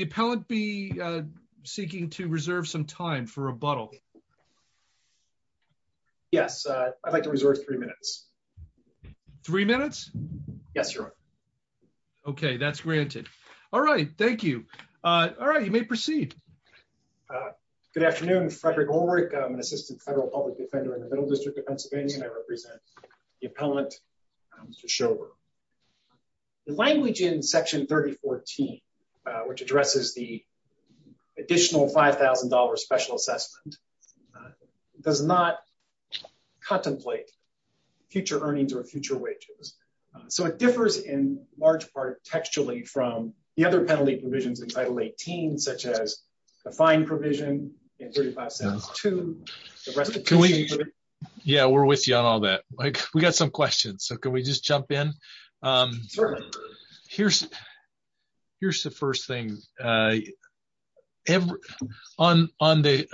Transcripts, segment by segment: the appellant be seeking to reserve some time for rebuttal? Yes, I'd like to reserve three minutes. Three minutes. Yes, you're okay. That's granted. All right. Thank you. All right, you may proceed. Good afternoon, Frederick Orwick. I'm an assistant federal public defender in the Middle District of Pennsylvania. And I represent the appellant, Mr. Schover. The language in Section 3014, which addresses the additional $5,000 special assessment, does not contemplate future earnings or future wages. So it differs in large part textually from the other penalty provisions in Title 18, such as the fine provision in 3572. Yeah, we're with you on all that. We got some questions. So here's, here's the first thing. On on the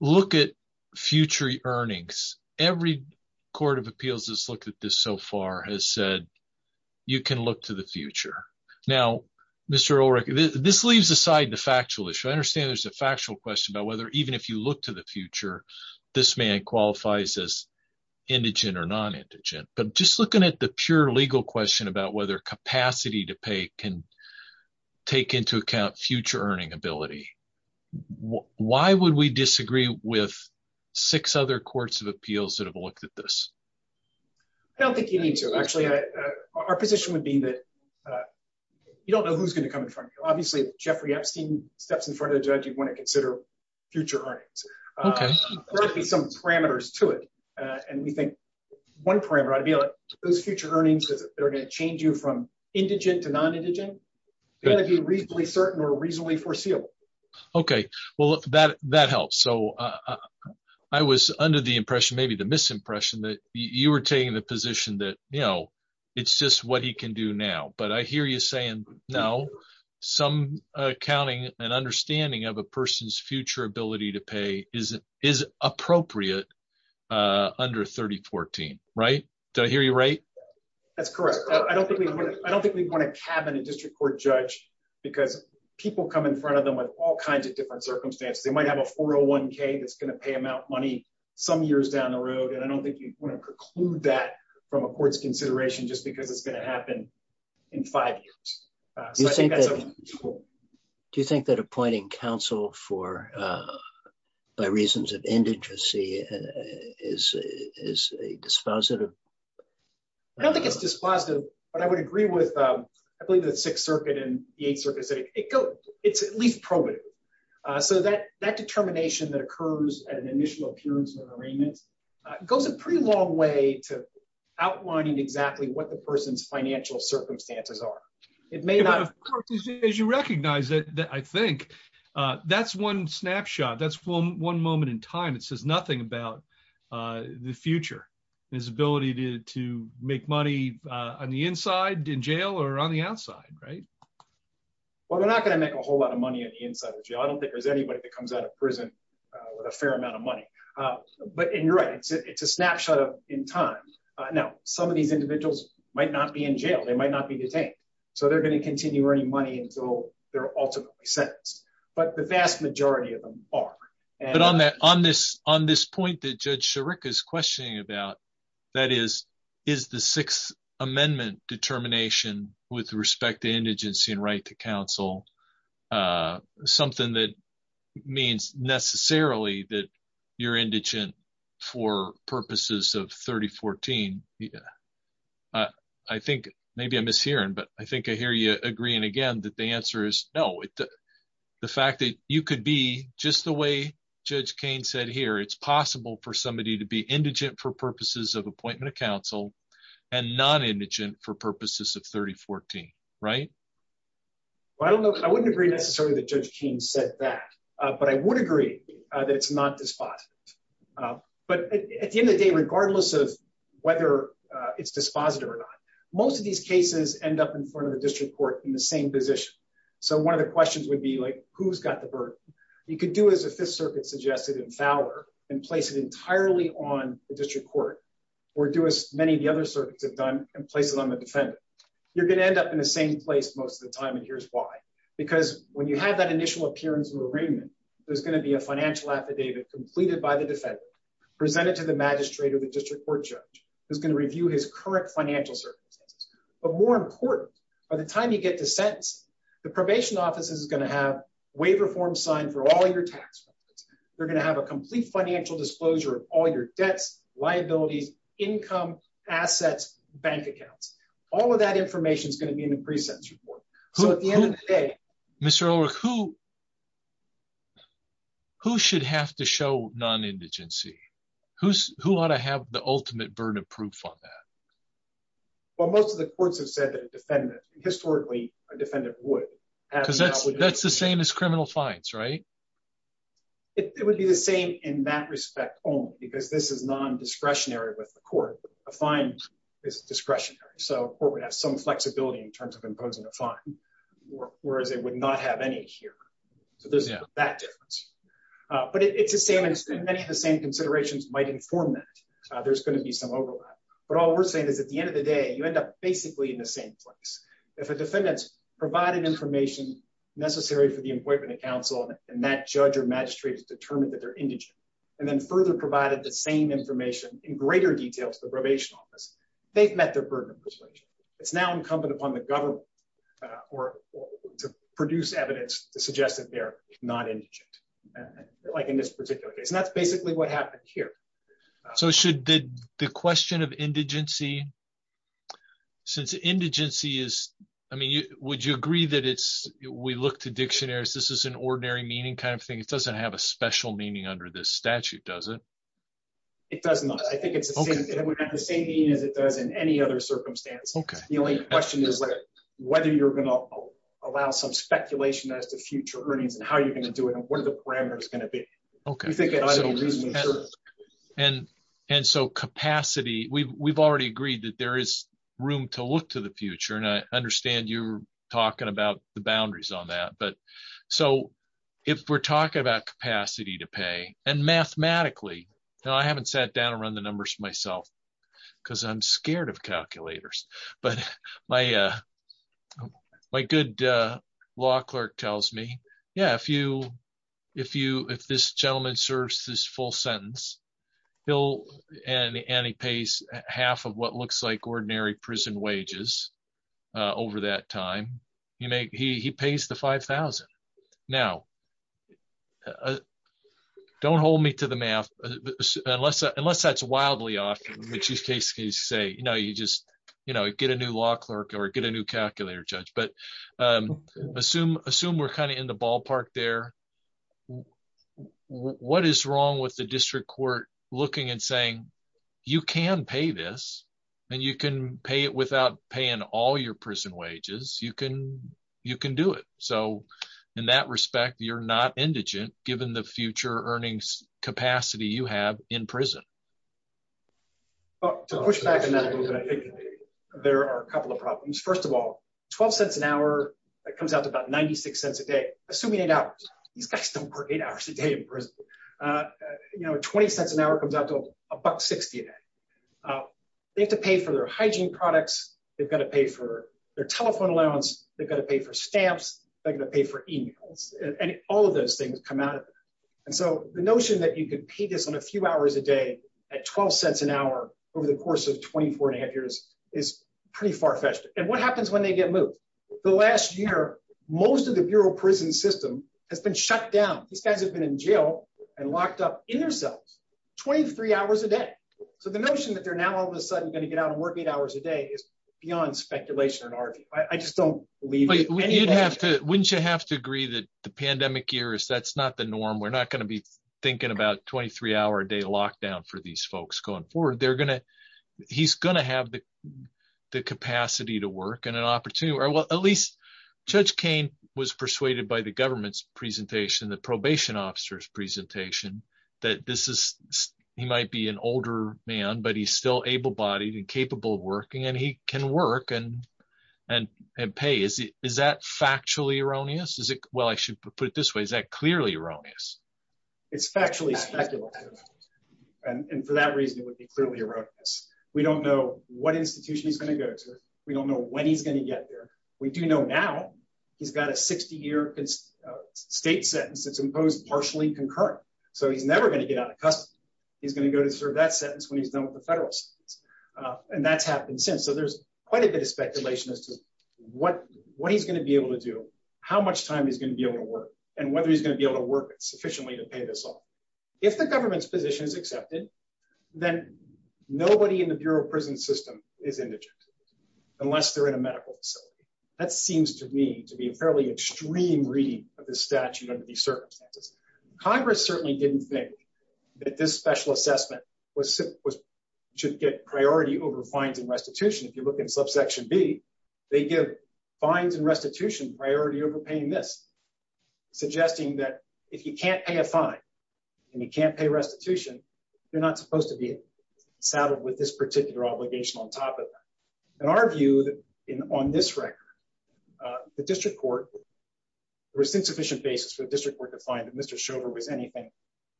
look at future earnings, every Court of Appeals has looked at this so far has said, you can look to the future. Now, Mr. Orwick, this leaves aside the factual issue. I understand there's a factual question about whether even if you look to the future, this man qualifies as indigent or non indigent, but just looking at the pure legal question about whether capacity to pay can take into account future earning ability. Why would we disagree with six other Courts of Appeals that have looked at this? I don't think you need to actually, our position would be that you don't know who's going to come in front of you. Obviously, Jeffrey Epstein steps in front of the judge, you'd want to consider future earnings. There'll be some parameters to it. And we think one parameter to be like, those are going to change you from indigent to non indigent, going to be reasonably certain or reasonably foreseeable. Okay, well, that that helps. So I was under the impression, maybe the misimpression that you were taking the position that, you know, it's just what he can do now. But I hear you saying, no, some accounting and understanding of a person's future ability to pay is, is appropriate. Under 3014. Right? Do I hear you? Right? That's correct. I don't think we want to cabin a district court judge, because people come in front of them with all kinds of different circumstances, they might have a 401k, that's going to pay them out money some years down the road. And I don't think you want to preclude that from a court's consideration, just because it's going to happen in five years. Do you think that appointing counsel for by reasons of I don't think it's dispositive. But I would agree with, I believe that Sixth Circuit and the eighth Circuit say it go, it's at least probative. So that that determination that occurs at an initial appearance of an arraignment goes a pretty long way to outlining exactly what the person's financial circumstances are. It may not as you recognize it, that I think that's one snapshot, that's one moment in time, it says nothing about the future, his ability to to make money on the inside in jail or on the outside, right? Well, they're not going to make a whole lot of money on the inside of jail, I don't think there's anybody that comes out of prison with a fair amount of money. But in your right, it's a snapshot of in time. Now, some of these individuals might not be in jail, they might not be detained. So they're going to continue earning money until they're ultimately sentenced. But the vast majority of them are. And on that on this, on this point, that Judge Sherrick is talking about, that is, is the Sixth Amendment determination with respect to indigency and right to counsel, something that means necessarily that you're indigent for purposes of 3014. I think maybe I'm mishearing, but I think I hear you agreeing again, that the answer is no. The fact that you could be just the way Judge Kane said here, it's possible for somebody to be indigent for purposes of appointment of counsel, and non indigent for purposes of 3014. Right? Well, I don't know, I wouldn't agree necessarily that Judge Kane said that. But I would agree that it's not dispositive. But at the end of the day, regardless of whether it's dispositive or not, most of these cases end up in front of the district court in the same position. So one of the questions would be like, who's got the burden? You could do as the Fifth Circuit suggested in Fowler and place it entirely on the district court, or do as many of the other circuits have done and place it on the defendant, you're going to end up in the same place most of the time. And here's why. Because when you have that initial appearance of arraignment, there's going to be a financial affidavit completed by the defendant, presented to the magistrate or the district court judge is going to review his current financial circumstances. But more important, by the time you get to sentence, the probation office is going to have waiver form signed for all your tax records, you're going to have a complete financial disclosure of all your debts, liabilities, income, assets, bank accounts, all of that information is going to be in a pre sentence report. Mr. O'Rourke, who who should have to show non indigency? Who's who ought to have the ultimate burden of proof on that? Well, most of the courts have said that a defendant historically, a defendant would have because that's, that's the same as criminal fines, right? It would be the same in that respect, only because this is non discretionary with the court, a fine is discretionary. So court would have some flexibility in terms of imposing a fine, whereas it would not have any here. So there's that difference. But it's the same in many of the same considerations might inform that there's going to be some overlap. But all we're saying is at the end of the day, you end up basically in the same place. If a defendant's provided information necessary for the appointment of counsel, and that judge or magistrate is determined that they're indigent, and then further provided the same information in greater detail to the probation office, they've met their burden of persuasion, it's now incumbent upon the government, or to produce evidence to suggest that they're not indigent. Like in this particular case, and that's basically what happened here. So should the question of indigency, since indigency is, I mean, it's not discretionary, is this is an ordinary meaning kind of thing? It doesn't have a special meaning under this statute, does it? It does not, I think it's the same as it does in any other circumstance. Okay. The only question is, whether you're going to allow some speculation as to future earnings and how you're going to do it, and what are the parameters going to be? Okay. And, and so capacity, we've already agreed that there is room to look to the future. And I understand you're talking about the boundaries on that. But so, if we're talking about capacity to pay, and mathematically, now, I haven't sat down and run the numbers myself, because I'm scared of calculators. But my, my good law clerk tells me, yeah, if you, if you if this gentleman serves this full sentence, he'll and he pays half of what looks like ordinary prison wages. Over that time, he he pays the 5000. Now, don't hold me to the math. Unless unless that's wildly off, which is case case, say, you know, you just, you know, get a new law clerk or get a new calculator, judge, but assume, assume we're kind of in the ballpark there. What is wrong with the district court looking and saying, you can pay this, and you can pay it without paying all your prison wages, you can, you can do it. So, in that respect, you're not indigent, given the future earnings capacity you have in prison. To push back on that a little bit, I think there are a couple of problems. First of all, 12 cents an hour, that comes out to about 96 cents a day, assuming it out. These guys don't work eight hours a day in prison. You know, 20 cents an hour comes out to a buck 60 a day. They have to pay for their telephone allowance, they've got to pay for stamps, they're gonna pay for emails, and all of those things come out. And so the notion that you could pay this on a few hours a day, at 12 cents an hour over the course of 24 and a half years is pretty far fetched. And what happens when they get moved? The last year, most of the bureau prison system has been shut down. These guys have been in jail and locked up in their cells 23 hours a day. So the notion that they're now all of a sudden going to get out and work eight hours a day is beyond speculation I just don't believe wouldn't you have to agree that the pandemic year is that's not the norm. We're not going to be thinking about 23 hour a day lockdown for these folks going forward, they're gonna, he's gonna have the the capacity to work and an opportunity or well, at least, Judge Kane was persuaded by the government's presentation, the probation officers presentation, that this is, he might be an older man, but he's still able bodied and and pay is, is that factually erroneous? Is it? Well, I should put it this way. Is that clearly erroneous? It's factually speculative. And for that reason, it would be clearly erroneous. We don't know what institution he's going to go to. We don't know when he's going to get there. We do know now, he's got a 60 year state sentence that's imposed partially concurrent. So he's never going to get out of custody. He's going to go to serve that sentence when he's done with the federal. And that's happened since so there's quite a bit of speculation as to what what he's going to be able to do, how much time is going to be able to work, and whether he's going to be able to work sufficiently to pay this off. If the government's position is accepted, then nobody in the Bureau of Prison System is indigent, unless they're in a medical facility. That seems to me to be a fairly extreme reading of the statute under these circumstances. Congress certainly didn't think that this special assessment was was should get priority over fines and restitution. If you look in subsection B, they give fines and restitution priority over paying this, suggesting that if you can't pay a fine, and you can't pay restitution, you're not supposed to be saddled with this particular obligation on top of that. And our view that in on this record, the district court, there was insufficient basis for the district court to find that Mr. Schover was anything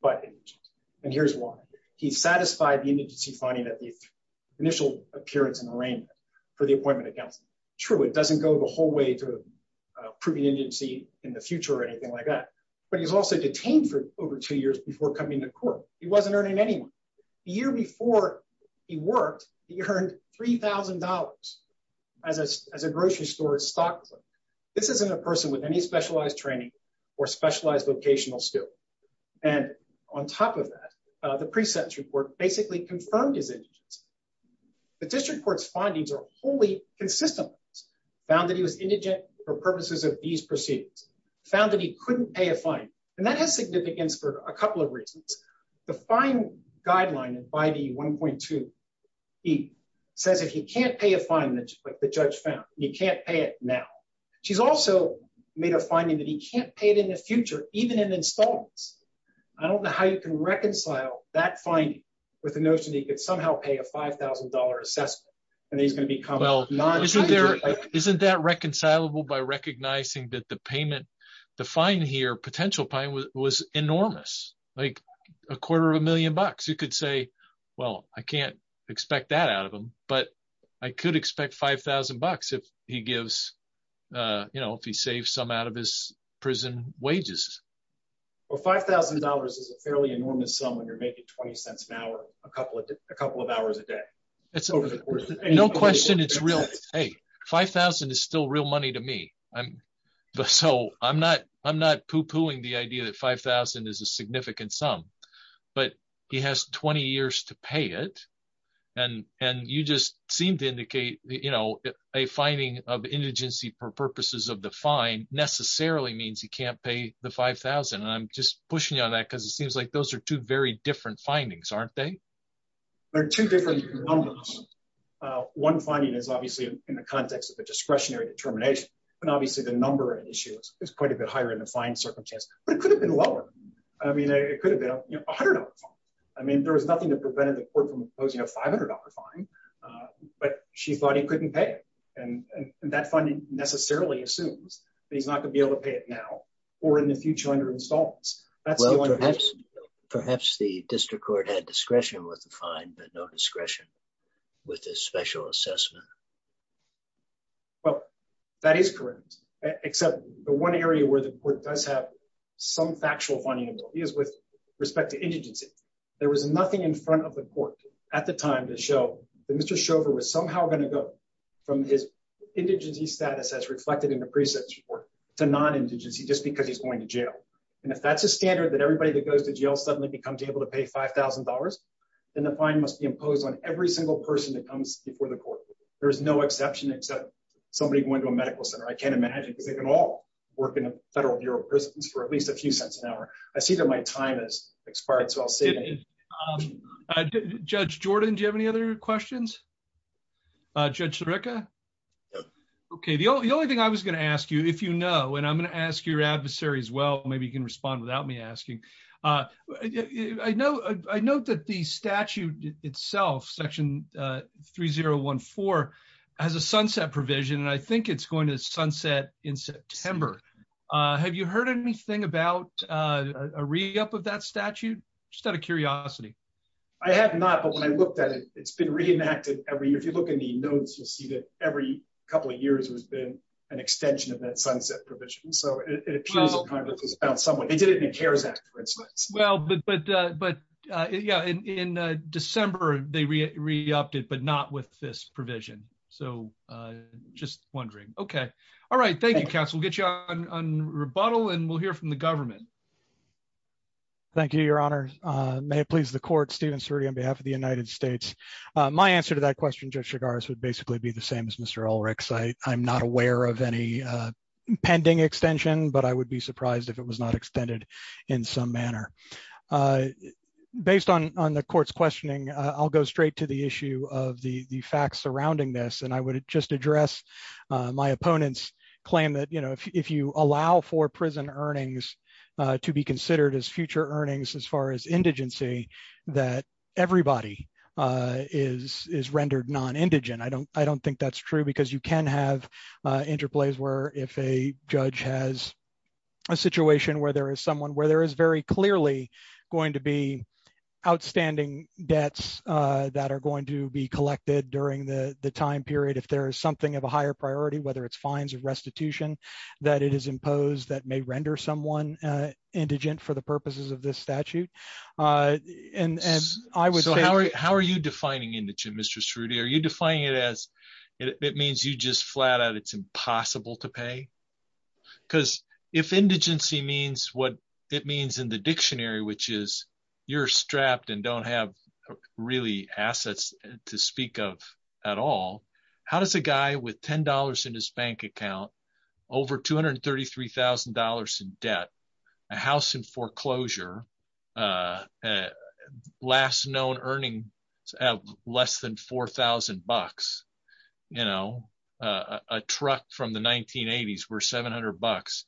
but indigent. And here's why. He satisfied the indigency finding that the initial appearance and arraignment for the appointment accounts. True, it doesn't go the whole way to proving indigency in the future or anything like that. But he's also detained for over two years before coming to court. He wasn't earning anyone. The year before he worked, he earned $3,000 as a grocery store stock. This isn't a person with any specialized training, or specialized vocational skill. And on top of that, the precepts report basically confirmed his the district court's findings are wholly consistent, found that he was indigent for purposes of these proceedings, found that he couldn't pay a fine. And that has significance for a couple of reasons. The fine guideline and by the 1.2. He says if you can't pay a fine that the judge found, you can't pay it now. She's also made a finding that he can't pay it in the future, even in installments. I don't know how you can reconcile that finding with the notion that you could somehow pay a $5,000 assessment, and he's going to become well, not isn't there, isn't that reconcilable by recognizing that the payment, the fine here potential pine was enormous, like a quarter of a million bucks, you could say, well, I can't expect that out of them. But I could expect 5,000 bucks if he gives, you know, if he saves some out of his prison wages, or $5,000 is a fairly enormous sum when you're making 20 cents an hour, a couple of a couple of hours a day. It's over the course of no question. It's real. Hey, 5000 is still real money to me. I'm so I'm not I'm not poo pooing the idea that 5000 is a significant sum, but he has 20 years to pay it. And and you just seem to indicate, you know, a finding of indigency for purposes of the fine necessarily means he can't pay the 5000. And I'm just pushing on that, because it seems like those are two very different findings, aren't they? There are two different numbers. One finding is obviously in the context of a discretionary determination. And obviously, the number of issues is quite a bit higher in the fine circumstance, but it could have been lower. I mean, it could have been $100 fine. I mean, there was nothing that prevented the court from opposing a $500 fine. But she thought he couldn't pay. And that funding necessarily assumes that he's not gonna be able to pay it now, or in the future under installments. Perhaps the district court had discretion with the fine, but no discretion with a special assessment. Well, that is correct. Except the one area where the court does have some factual funding is with respect to indigency. There was nothing in front of the court at the time to show that Mr. Shover was somehow going to go from his indigency status as reflected in the precepts report to non indigency just because he's going to jail. And if that's a standard that everybody that goes to jail suddenly becomes able to pay $5,000, then the fine must be imposed on every single person that comes before the court. There is no exception except somebody going to a medical center, I can't imagine because they can all work in a Federal Bureau of Prisons for at least a few cents an hour. I see that my time has expired. So I'll say Judge Jordan, do you have any other questions? Judge Sirica? Okay, the only thing I was gonna ask you if you know, and I'm sure your adversary as well, maybe you can respond without me asking. I know, I know that the statute itself, section 3014, has a sunset provision. And I think it's going to sunset in September. Have you heard anything about a read up of that statute? Just out of curiosity? I have not. But when I looked at it, it's been reenacted every year. If you look in the notes, you'll see that every couple of months is about someone who cares. Well, but, but, but, yeah, in December, they re reopted, but not with this provision. So just wondering, okay. All right. Thank you, counsel. Get you on rebuttal. And we'll hear from the government. Thank you, Your Honor. May it please the court Steven Suri on behalf of the United States. My answer to that question, Judge Chigars would basically be the same as Mr. Ulrich's. I'm not aware of any pending extension, but I would be surprised if it was not extended in some manner. Based on on the court's questioning, I'll go straight to the issue of the the facts surrounding this and I would just address my opponent's claim that you know, if you allow for prison earnings, to be considered as future earnings as far as indigency, that everybody is is rendered non indigent. I don't I don't think that's true, because you can have interplays where if a judge has a situation where there is someone where there is very clearly going to be outstanding debts that are going to be collected during the time period, if there is something of a higher priority, whether it's fines or restitution, that it is imposed that may render someone indigent for the purposes of this statute. And I would say how are you defining indigent, Mr. Strudy? Are you defining it as it means you just flat out, it's impossible to pay? Because if indigency means what it means in the dictionary, which is you're strapped and don't have really assets to speak of, at all, how does a guy with $10 in his bank account, over $233,000 in debt, a house in foreclosure, last known earning less than $4,000, you know, a truck from the 1980s were $700.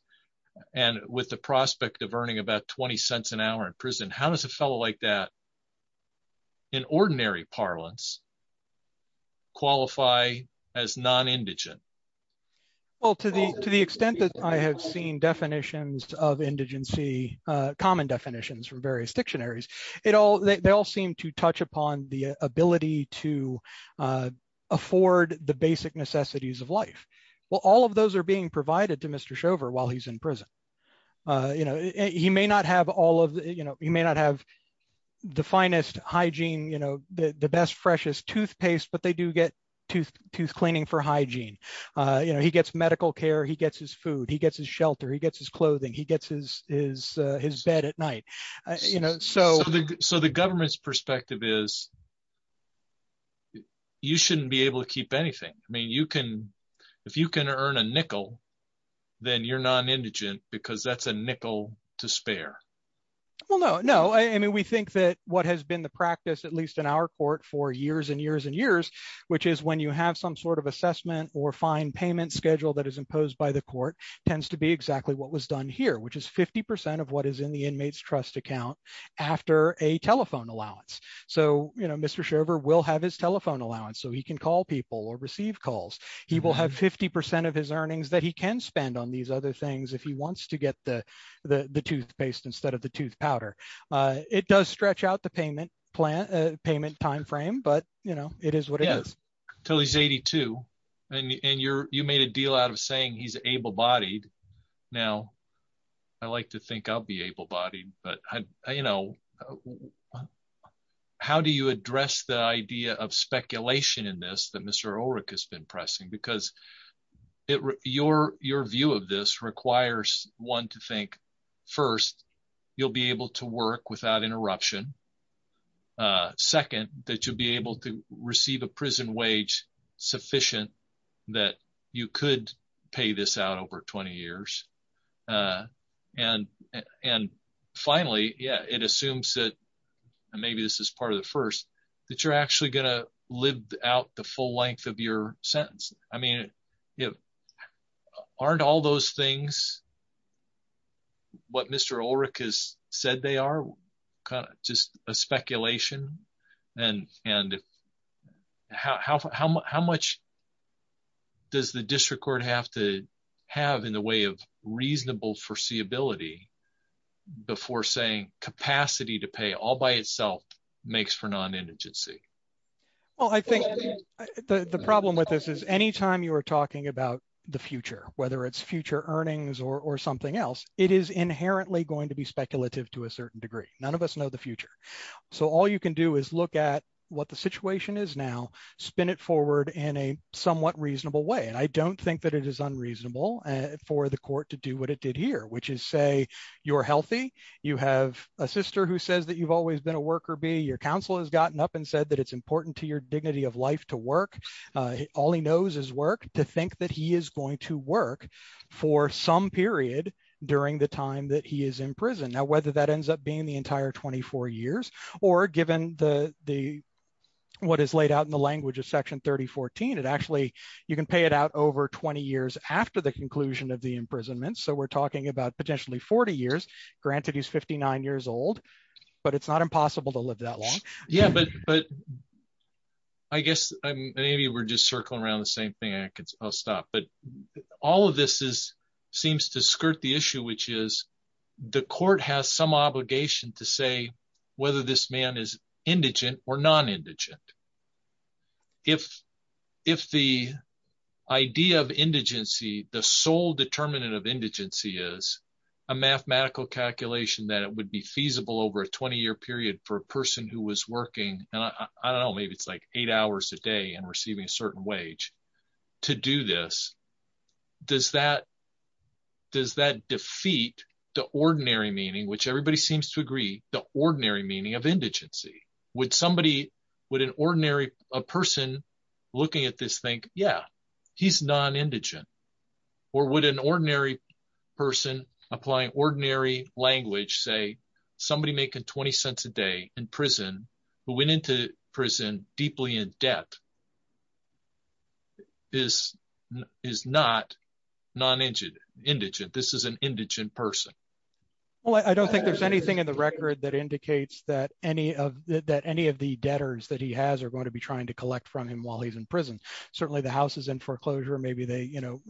And with the prospect of earning about 20 cents an hour in prison, how does a fellow like that, in ordinary parlance, qualify as non indigent? Well, to the to the extent that I have seen definitions of indigency, common definitions from various dictionaries, it afford the basic necessities of life. Well, all of those are being provided to Mr. Shover while he's in prison. You know, he may not have all of you know, he may not have the finest hygiene, you know, the best freshest toothpaste, but they do get to tooth cleaning for hygiene. You know, he gets medical care, he gets his food, he gets his shelter, he gets his clothing, he gets his his his bed at night, you know, so so the government's perspective is, you shouldn't be able to keep anything. I mean, you can, if you can earn a nickel, then you're non indigent, because that's a nickel to spare. Well, no, no, I mean, we think that what has been the practice, at least in our court for years and years and years, which is when you have some sort of assessment or fine payment schedule that is imposed by the court tends to be exactly what was done here, which is 50% of what is in the inmates trust account after a telephone allowance. So you know, Mr. Shriver will have his telephone allowance, so he can call people or receive calls, he will have 50% of his earnings that he can spend on these other things if he wants to get the the toothpaste instead of the tooth powder. It does stretch out the payment plan payment timeframe, but you know, it is what it is till he's 82. And you're you made a deal out of saying he's able bodied. Now. I like to think I'll be able bodied, but you know, how do you address the idea of speculation in this that Mr. Ulrich has been pressing, because it your your view of this requires one to think, first, you'll be able to work without interruption. Second, that you'll be able to receive a prison wage sufficient, that you could pay this out over 20 years. And, and finally, yeah, it assumes that maybe this is part of the first that you're actually going to live out the full length of your sentence. I mean, if aren't all those things what Mr. Ulrich has said they are kind of just a speculation. And, and how much does the district court have to have in the way of reasonable foreseeability, before saying capacity to pay all by itself makes for non intrinsic? Well, I think the problem with this is anytime you are talking about the future, whether it's future earnings or something else, it is inherently going to be speculative to a certain degree, none of us know the future. So all you can do is look at what the situation is now, spin it forward in a somewhat reasonable way. And I don't think that it is unreasonable for the court to do what it did here, which is say, you're healthy, you have a sister who says that you've always been a worker be your counsel has gotten up and said that it's important to your dignity of life to work. All he knows is work to think that he is going to work for some period during the time that he is in prison. Now, whether that ends up being the entire 24 years, or given the the what is laid out in the language of section 3014, it actually, you can pay it out over 20 years after the conclusion of the imprisonment. So we're talking about potentially 40 years, granted, he's 59 years old, but it's not impossible to live that long. Yeah, but but I guess maybe we're just circling around the same thing. I'll stop. But all of this is seems to skirt the issue, which is, the court has some obligation to say, whether this man is indigent or non indigent. If, if the idea of indigency, the sole determinant of indigency is a mathematical calculation that it would be feasible over a 20 year period for a person who was working, and I don't know, maybe it's like eight hours a day and receiving a certain wage to do this. Does that? Does that defeat the ordinary meaning which everybody seems to agree the ordinary meaning of indigency? Would somebody, would an ordinary person looking at this think, yeah, he's non indigent? Or would an ordinary person applying ordinary language say, somebody making 20 cents a day in prison, who went into prison deeply in debt? This is not non indigent, indigent, this is an indigent person. Well, I don't think there's anything in the record that indicates that any of that any of the debtors that he has are going to be trying to collect from him while he's in prison. Certainly the house is in foreclosure, maybe they, you know,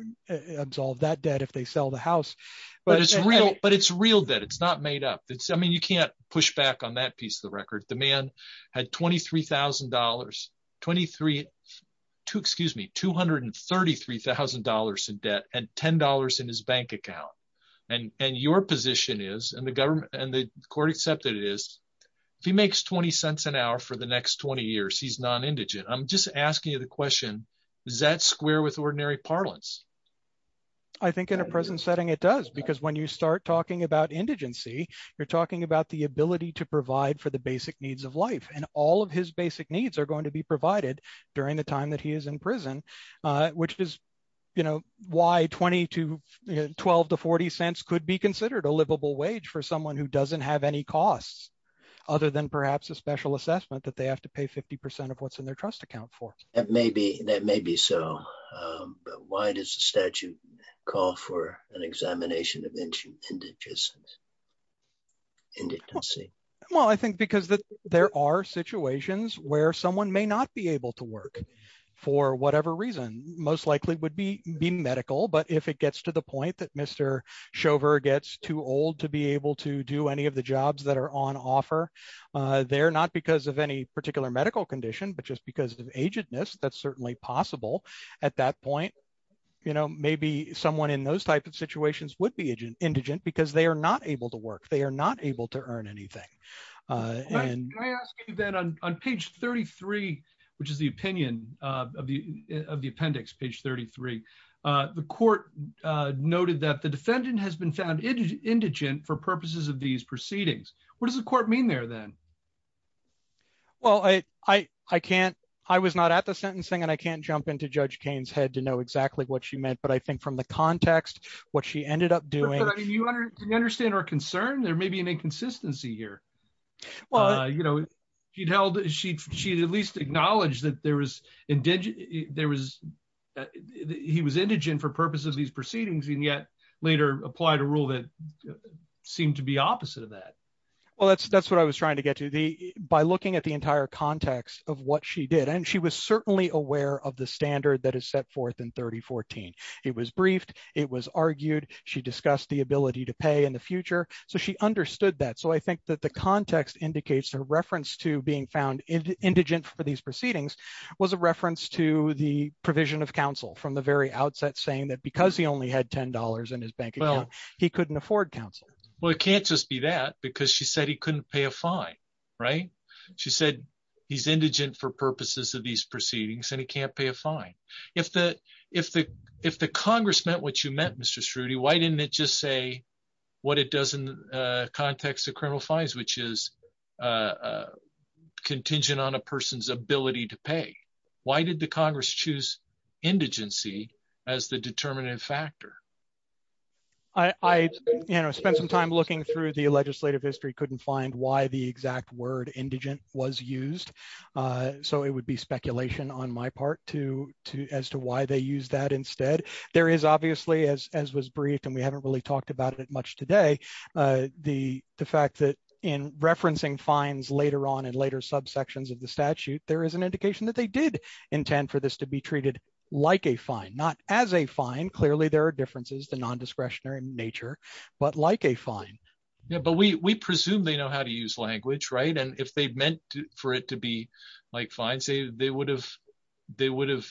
absolve that debt if they sell the house. But it's real, but it's real that it's not made up. It's I mean, you can't push back on that piece of the record. The man had $23,000 23 to excuse me, $233,000 in debt and $10 in his bank account. And and your position is and the government and the court accepted it is, if he makes 20 cents an hour for the next 20 years, he's non indigent. I'm just asking you the question, is that square with ordinary parlance? I think in a present setting, it does. Because when you start talking about indigency, you're talking about the ability to provide for the basic needs of life. And all of his basic needs are going to be provided during the time that he is in prison. I think 12 to 40 cents could be considered a livable wage for someone who doesn't have any costs, other than perhaps a special assessment that they have to pay 50% of what's in their trust account for it may be that may be so. But why does the statute call for an examination of indigent? Indigency? Well, I think because there are situations where someone may not be able to work, for whatever reason, most likely would be be medical, but if it gets to the point that Mr. Shover gets too old to be able to do any of the jobs that are on offer, they're not because of any particular medical condition, but just because of agentness, that's certainly possible. At that point, you know, maybe someone in those type of situations would be agent indigent, because they are not able to work, they are not able to earn anything. And then on page 33, which is the opinion of the of the court, noted that the defendant has been found indigent for purposes of these proceedings. What does the court mean there then? Well, I, I can't, I was not at the sentencing. And I can't jump into Judge Kane's head to know exactly what she meant. But I think from the context, what she ended up doing, I mean, you understand our concern, there may be an inconsistency here. Well, you know, she'd held, she'd, she'd at least acknowledge that there was indigent, there was, he was indigent for purposes of these proceedings, and yet later applied a rule that seemed to be opposite of that. Well, that's, that's what I was trying to get to the by looking at the entire context of what she did. And she was certainly aware of the standard that is set forth in 3014. It was briefed, it was argued, she discussed the ability to pay in the future. So she understood that. So I think that the context indicates the reference to being found indigent for these proceedings was a reference to the provision of counsel from the very outset, saying that because he only had $10 in his bank account, he couldn't afford counsel. Well, it can't just be that because she said he couldn't pay a fine. Right? She said, he's indigent for purposes of these proceedings, and he can't pay a fine. If the, if the, if the Congress meant what you meant, Mr. Strudy, why didn't it just say what it does in the context of criminal fines, which is contingent on a person's ability to pay? Why did the Congress choose indigency as the determinative factor? I spent some time looking through the legislative history couldn't find why the exact word indigent was used. So it would be speculation on my part to to as to why they use that instead, there is obviously as as was briefed, and we haven't really talked about it much today. The fact that in referencing fines later on, and later subsections of the statute, there is an like a fine, not as a fine. Clearly, there are differences to nondiscretionary nature, but like a fine. Yeah, but we presume they know how to use language, right. And if they meant for it to be like fine, say they would have, they would have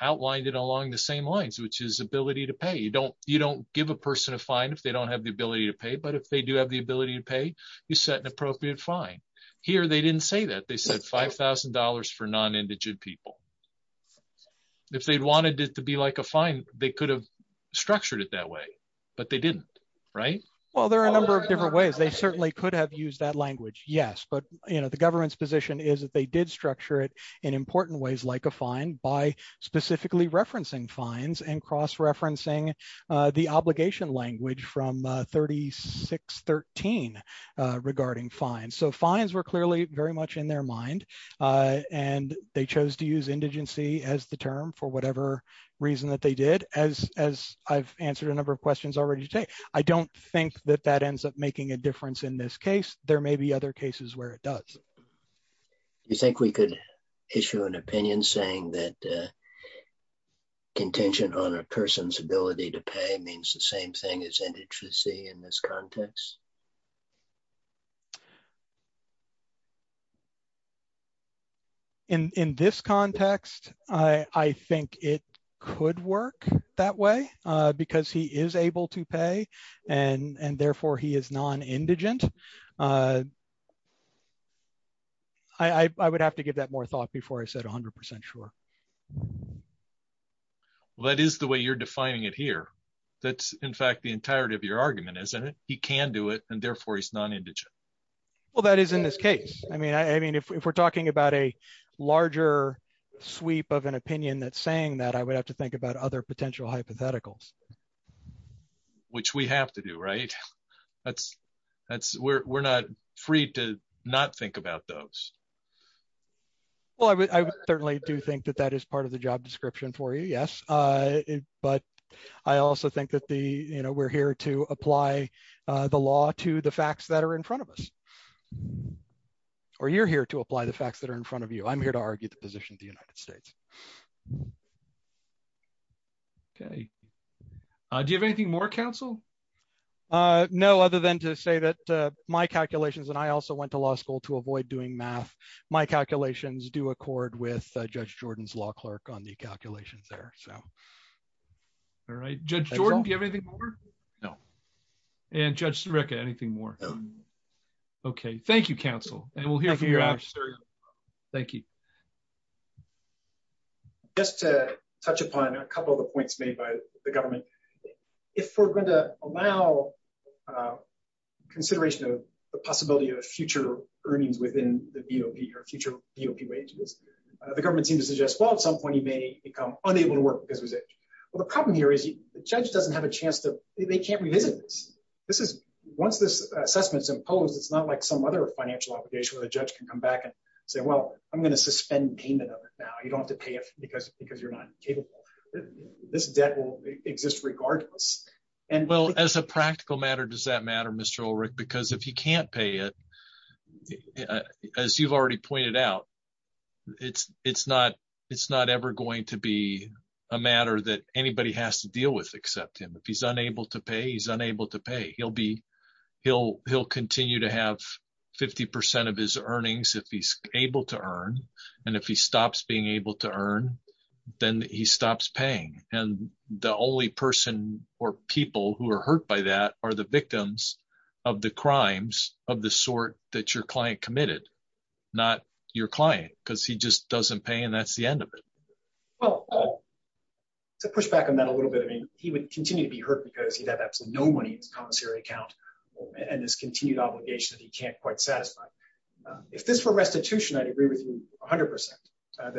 outlined it along the same lines, which is ability to pay you don't you don't give a person a fine if they don't have the ability to pay. But if they do have the ability to pay, you set an appropriate fine. Here, they didn't say that they said $5,000 for non indigent people. If they'd wanted it to be like a fine, they could have structured it that way. But they didn't. Right? Well, there are a number of different ways they certainly could have used that language. Yes. But you know, the government's position is that they did structure it in important ways like a fine by specifically referencing fines and cross referencing the obligation language from 3613 regarding fines. So fines were clearly very much in their mind. And they chose to use indigency as the term for whatever reason that they did, as as I've answered a number of questions already today. I don't think that that ends up making a difference in this case, there may be other cases where it does. You think we could issue an opinion saying that contention on a person's ability to pay means the same thing as indigency? In this context, I think it could work that way, because he is able to pay, and therefore he is non indigent. I would have to give that more thought before I said 100% sure. That is the way you're defining it here. That's in fact, the entirety of your argument, isn't it? He can do it. And therefore, he's non indigent. Well, that is in this case, I mean, I mean, if we're talking about a larger sweep of an opinion that saying that I would have to think about other potential hypotheticals, which we have to do, right? That's, that's, we're not free to not think about those. Well, I would certainly do think that that is part of the job description for you. Yes. But I also think that the you know, you're here to apply the law to the facts that are in front of us. Or you're here to apply the facts that are in front of you. I'm here to argue the position of the United States. Okay. Do you have anything more counsel? No, other than to say that my calculations and I also went to law school to avoid doing math. My calculations do accord with Judge Jordan's law clerk on the calculations there. So all right, Judge Jordan, do you have anything? No. And Judge Serica, anything more? Okay, thank you, counsel. And we'll hear from you. Thank you. Just to touch upon a couple of the points made by the government. If we're going to allow consideration of the possibility of future earnings within the BOP or future BOP wages, the government seems to suggest, well, at some point, you may become unable to work because of his age. Well, the problem here is the judge doesn't have a chance to they can't revisit this. This is once this assessment is imposed. It's not like some other financial obligation where the judge can come back and say, well, I'm going to suspend payment of it. Now you don't have to pay it because because you're not capable. This debt will exist regardless. And well, as a practical matter, does that matter, Mr. Ulrich, because if he can't pay it, as you've already pointed out, it's it's it's not ever going to be a matter that anybody has to deal with, except him. If he's unable to pay, he's unable to pay, he'll be, he'll, he'll continue to have 50% of his earnings if he's able to earn. And if he stops being able to earn, then he stops paying. And the only person or people who are hurt by that are the victims of the crimes of the sort that your client committed, not your client, because he just doesn't pay. And that's the end of it. Well, to push back on that a little bit, I mean, he would continue to be hurt because he'd have absolutely no money in his commissary account. And this continued obligation that he can't quite satisfy. If this were restitution, I'd agree with you 100% that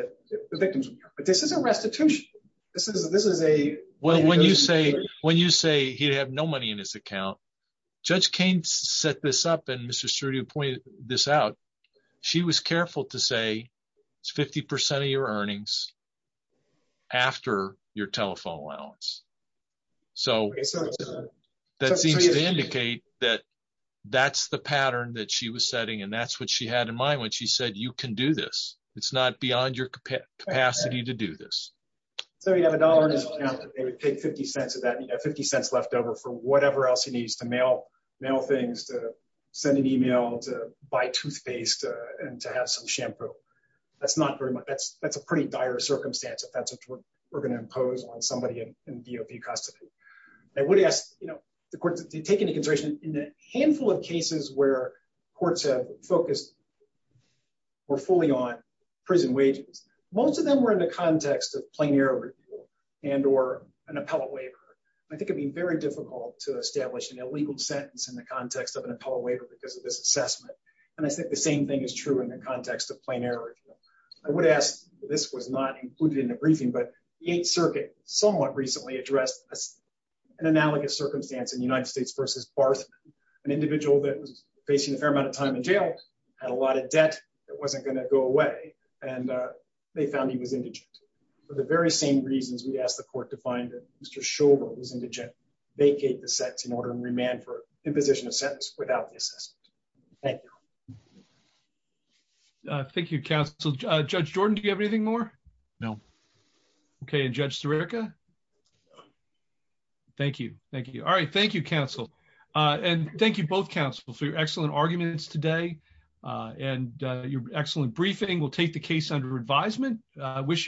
the victims, but this is a restitution. This is this is a well, when you say when you say he'd have no money in his account, Judge Kane set this up. And Mr. Sturdy pointed this out. She was careful to say, 50% of your earnings after your telephone allowance. So that seems to indicate that that's the pattern that she was setting. And that's what she had in mind when she said you can do this. It's not beyond your capacity to do this. So you have $1 in his account, and he would take 50 cents of that 50 cents left over for whatever else he needs to mail, mail things to send an email to buy toothpaste and to have some shampoo. That's not very much. That's that's a pretty dire circumstance if that's what we're going to impose on somebody in DOP custody. I would ask, you know, the court to take into consideration in a handful of cases where courts have focused or fully on prison wages, most of them were in the context of plenary and or an appellate waiver. I think it'd be very difficult to establish an illegal sentence in the context of an appellate waiver because of this assessment. And I think the same thing is true in the context of plenary. I would ask, this was not included in the briefing, but the Eighth Circuit somewhat recently addressed an analogous circumstance in United States versus Barth. An individual that was facing a fair amount of time in jail, had a lot of debt that wasn't going to go away. And they found he was indigent. For the very same reasons we asked the court to find that Mr. was indigent, vacate the sets in order and remand for imposition of sentence without the assessment. Thank you. Thank you, counsel. Judge Jordan, do you have anything more? No. Okay, and Judge Sirica. Thank you. Thank you. All right. Thank you, counsel. And thank you both counsel for your excellent arguments today. And I wish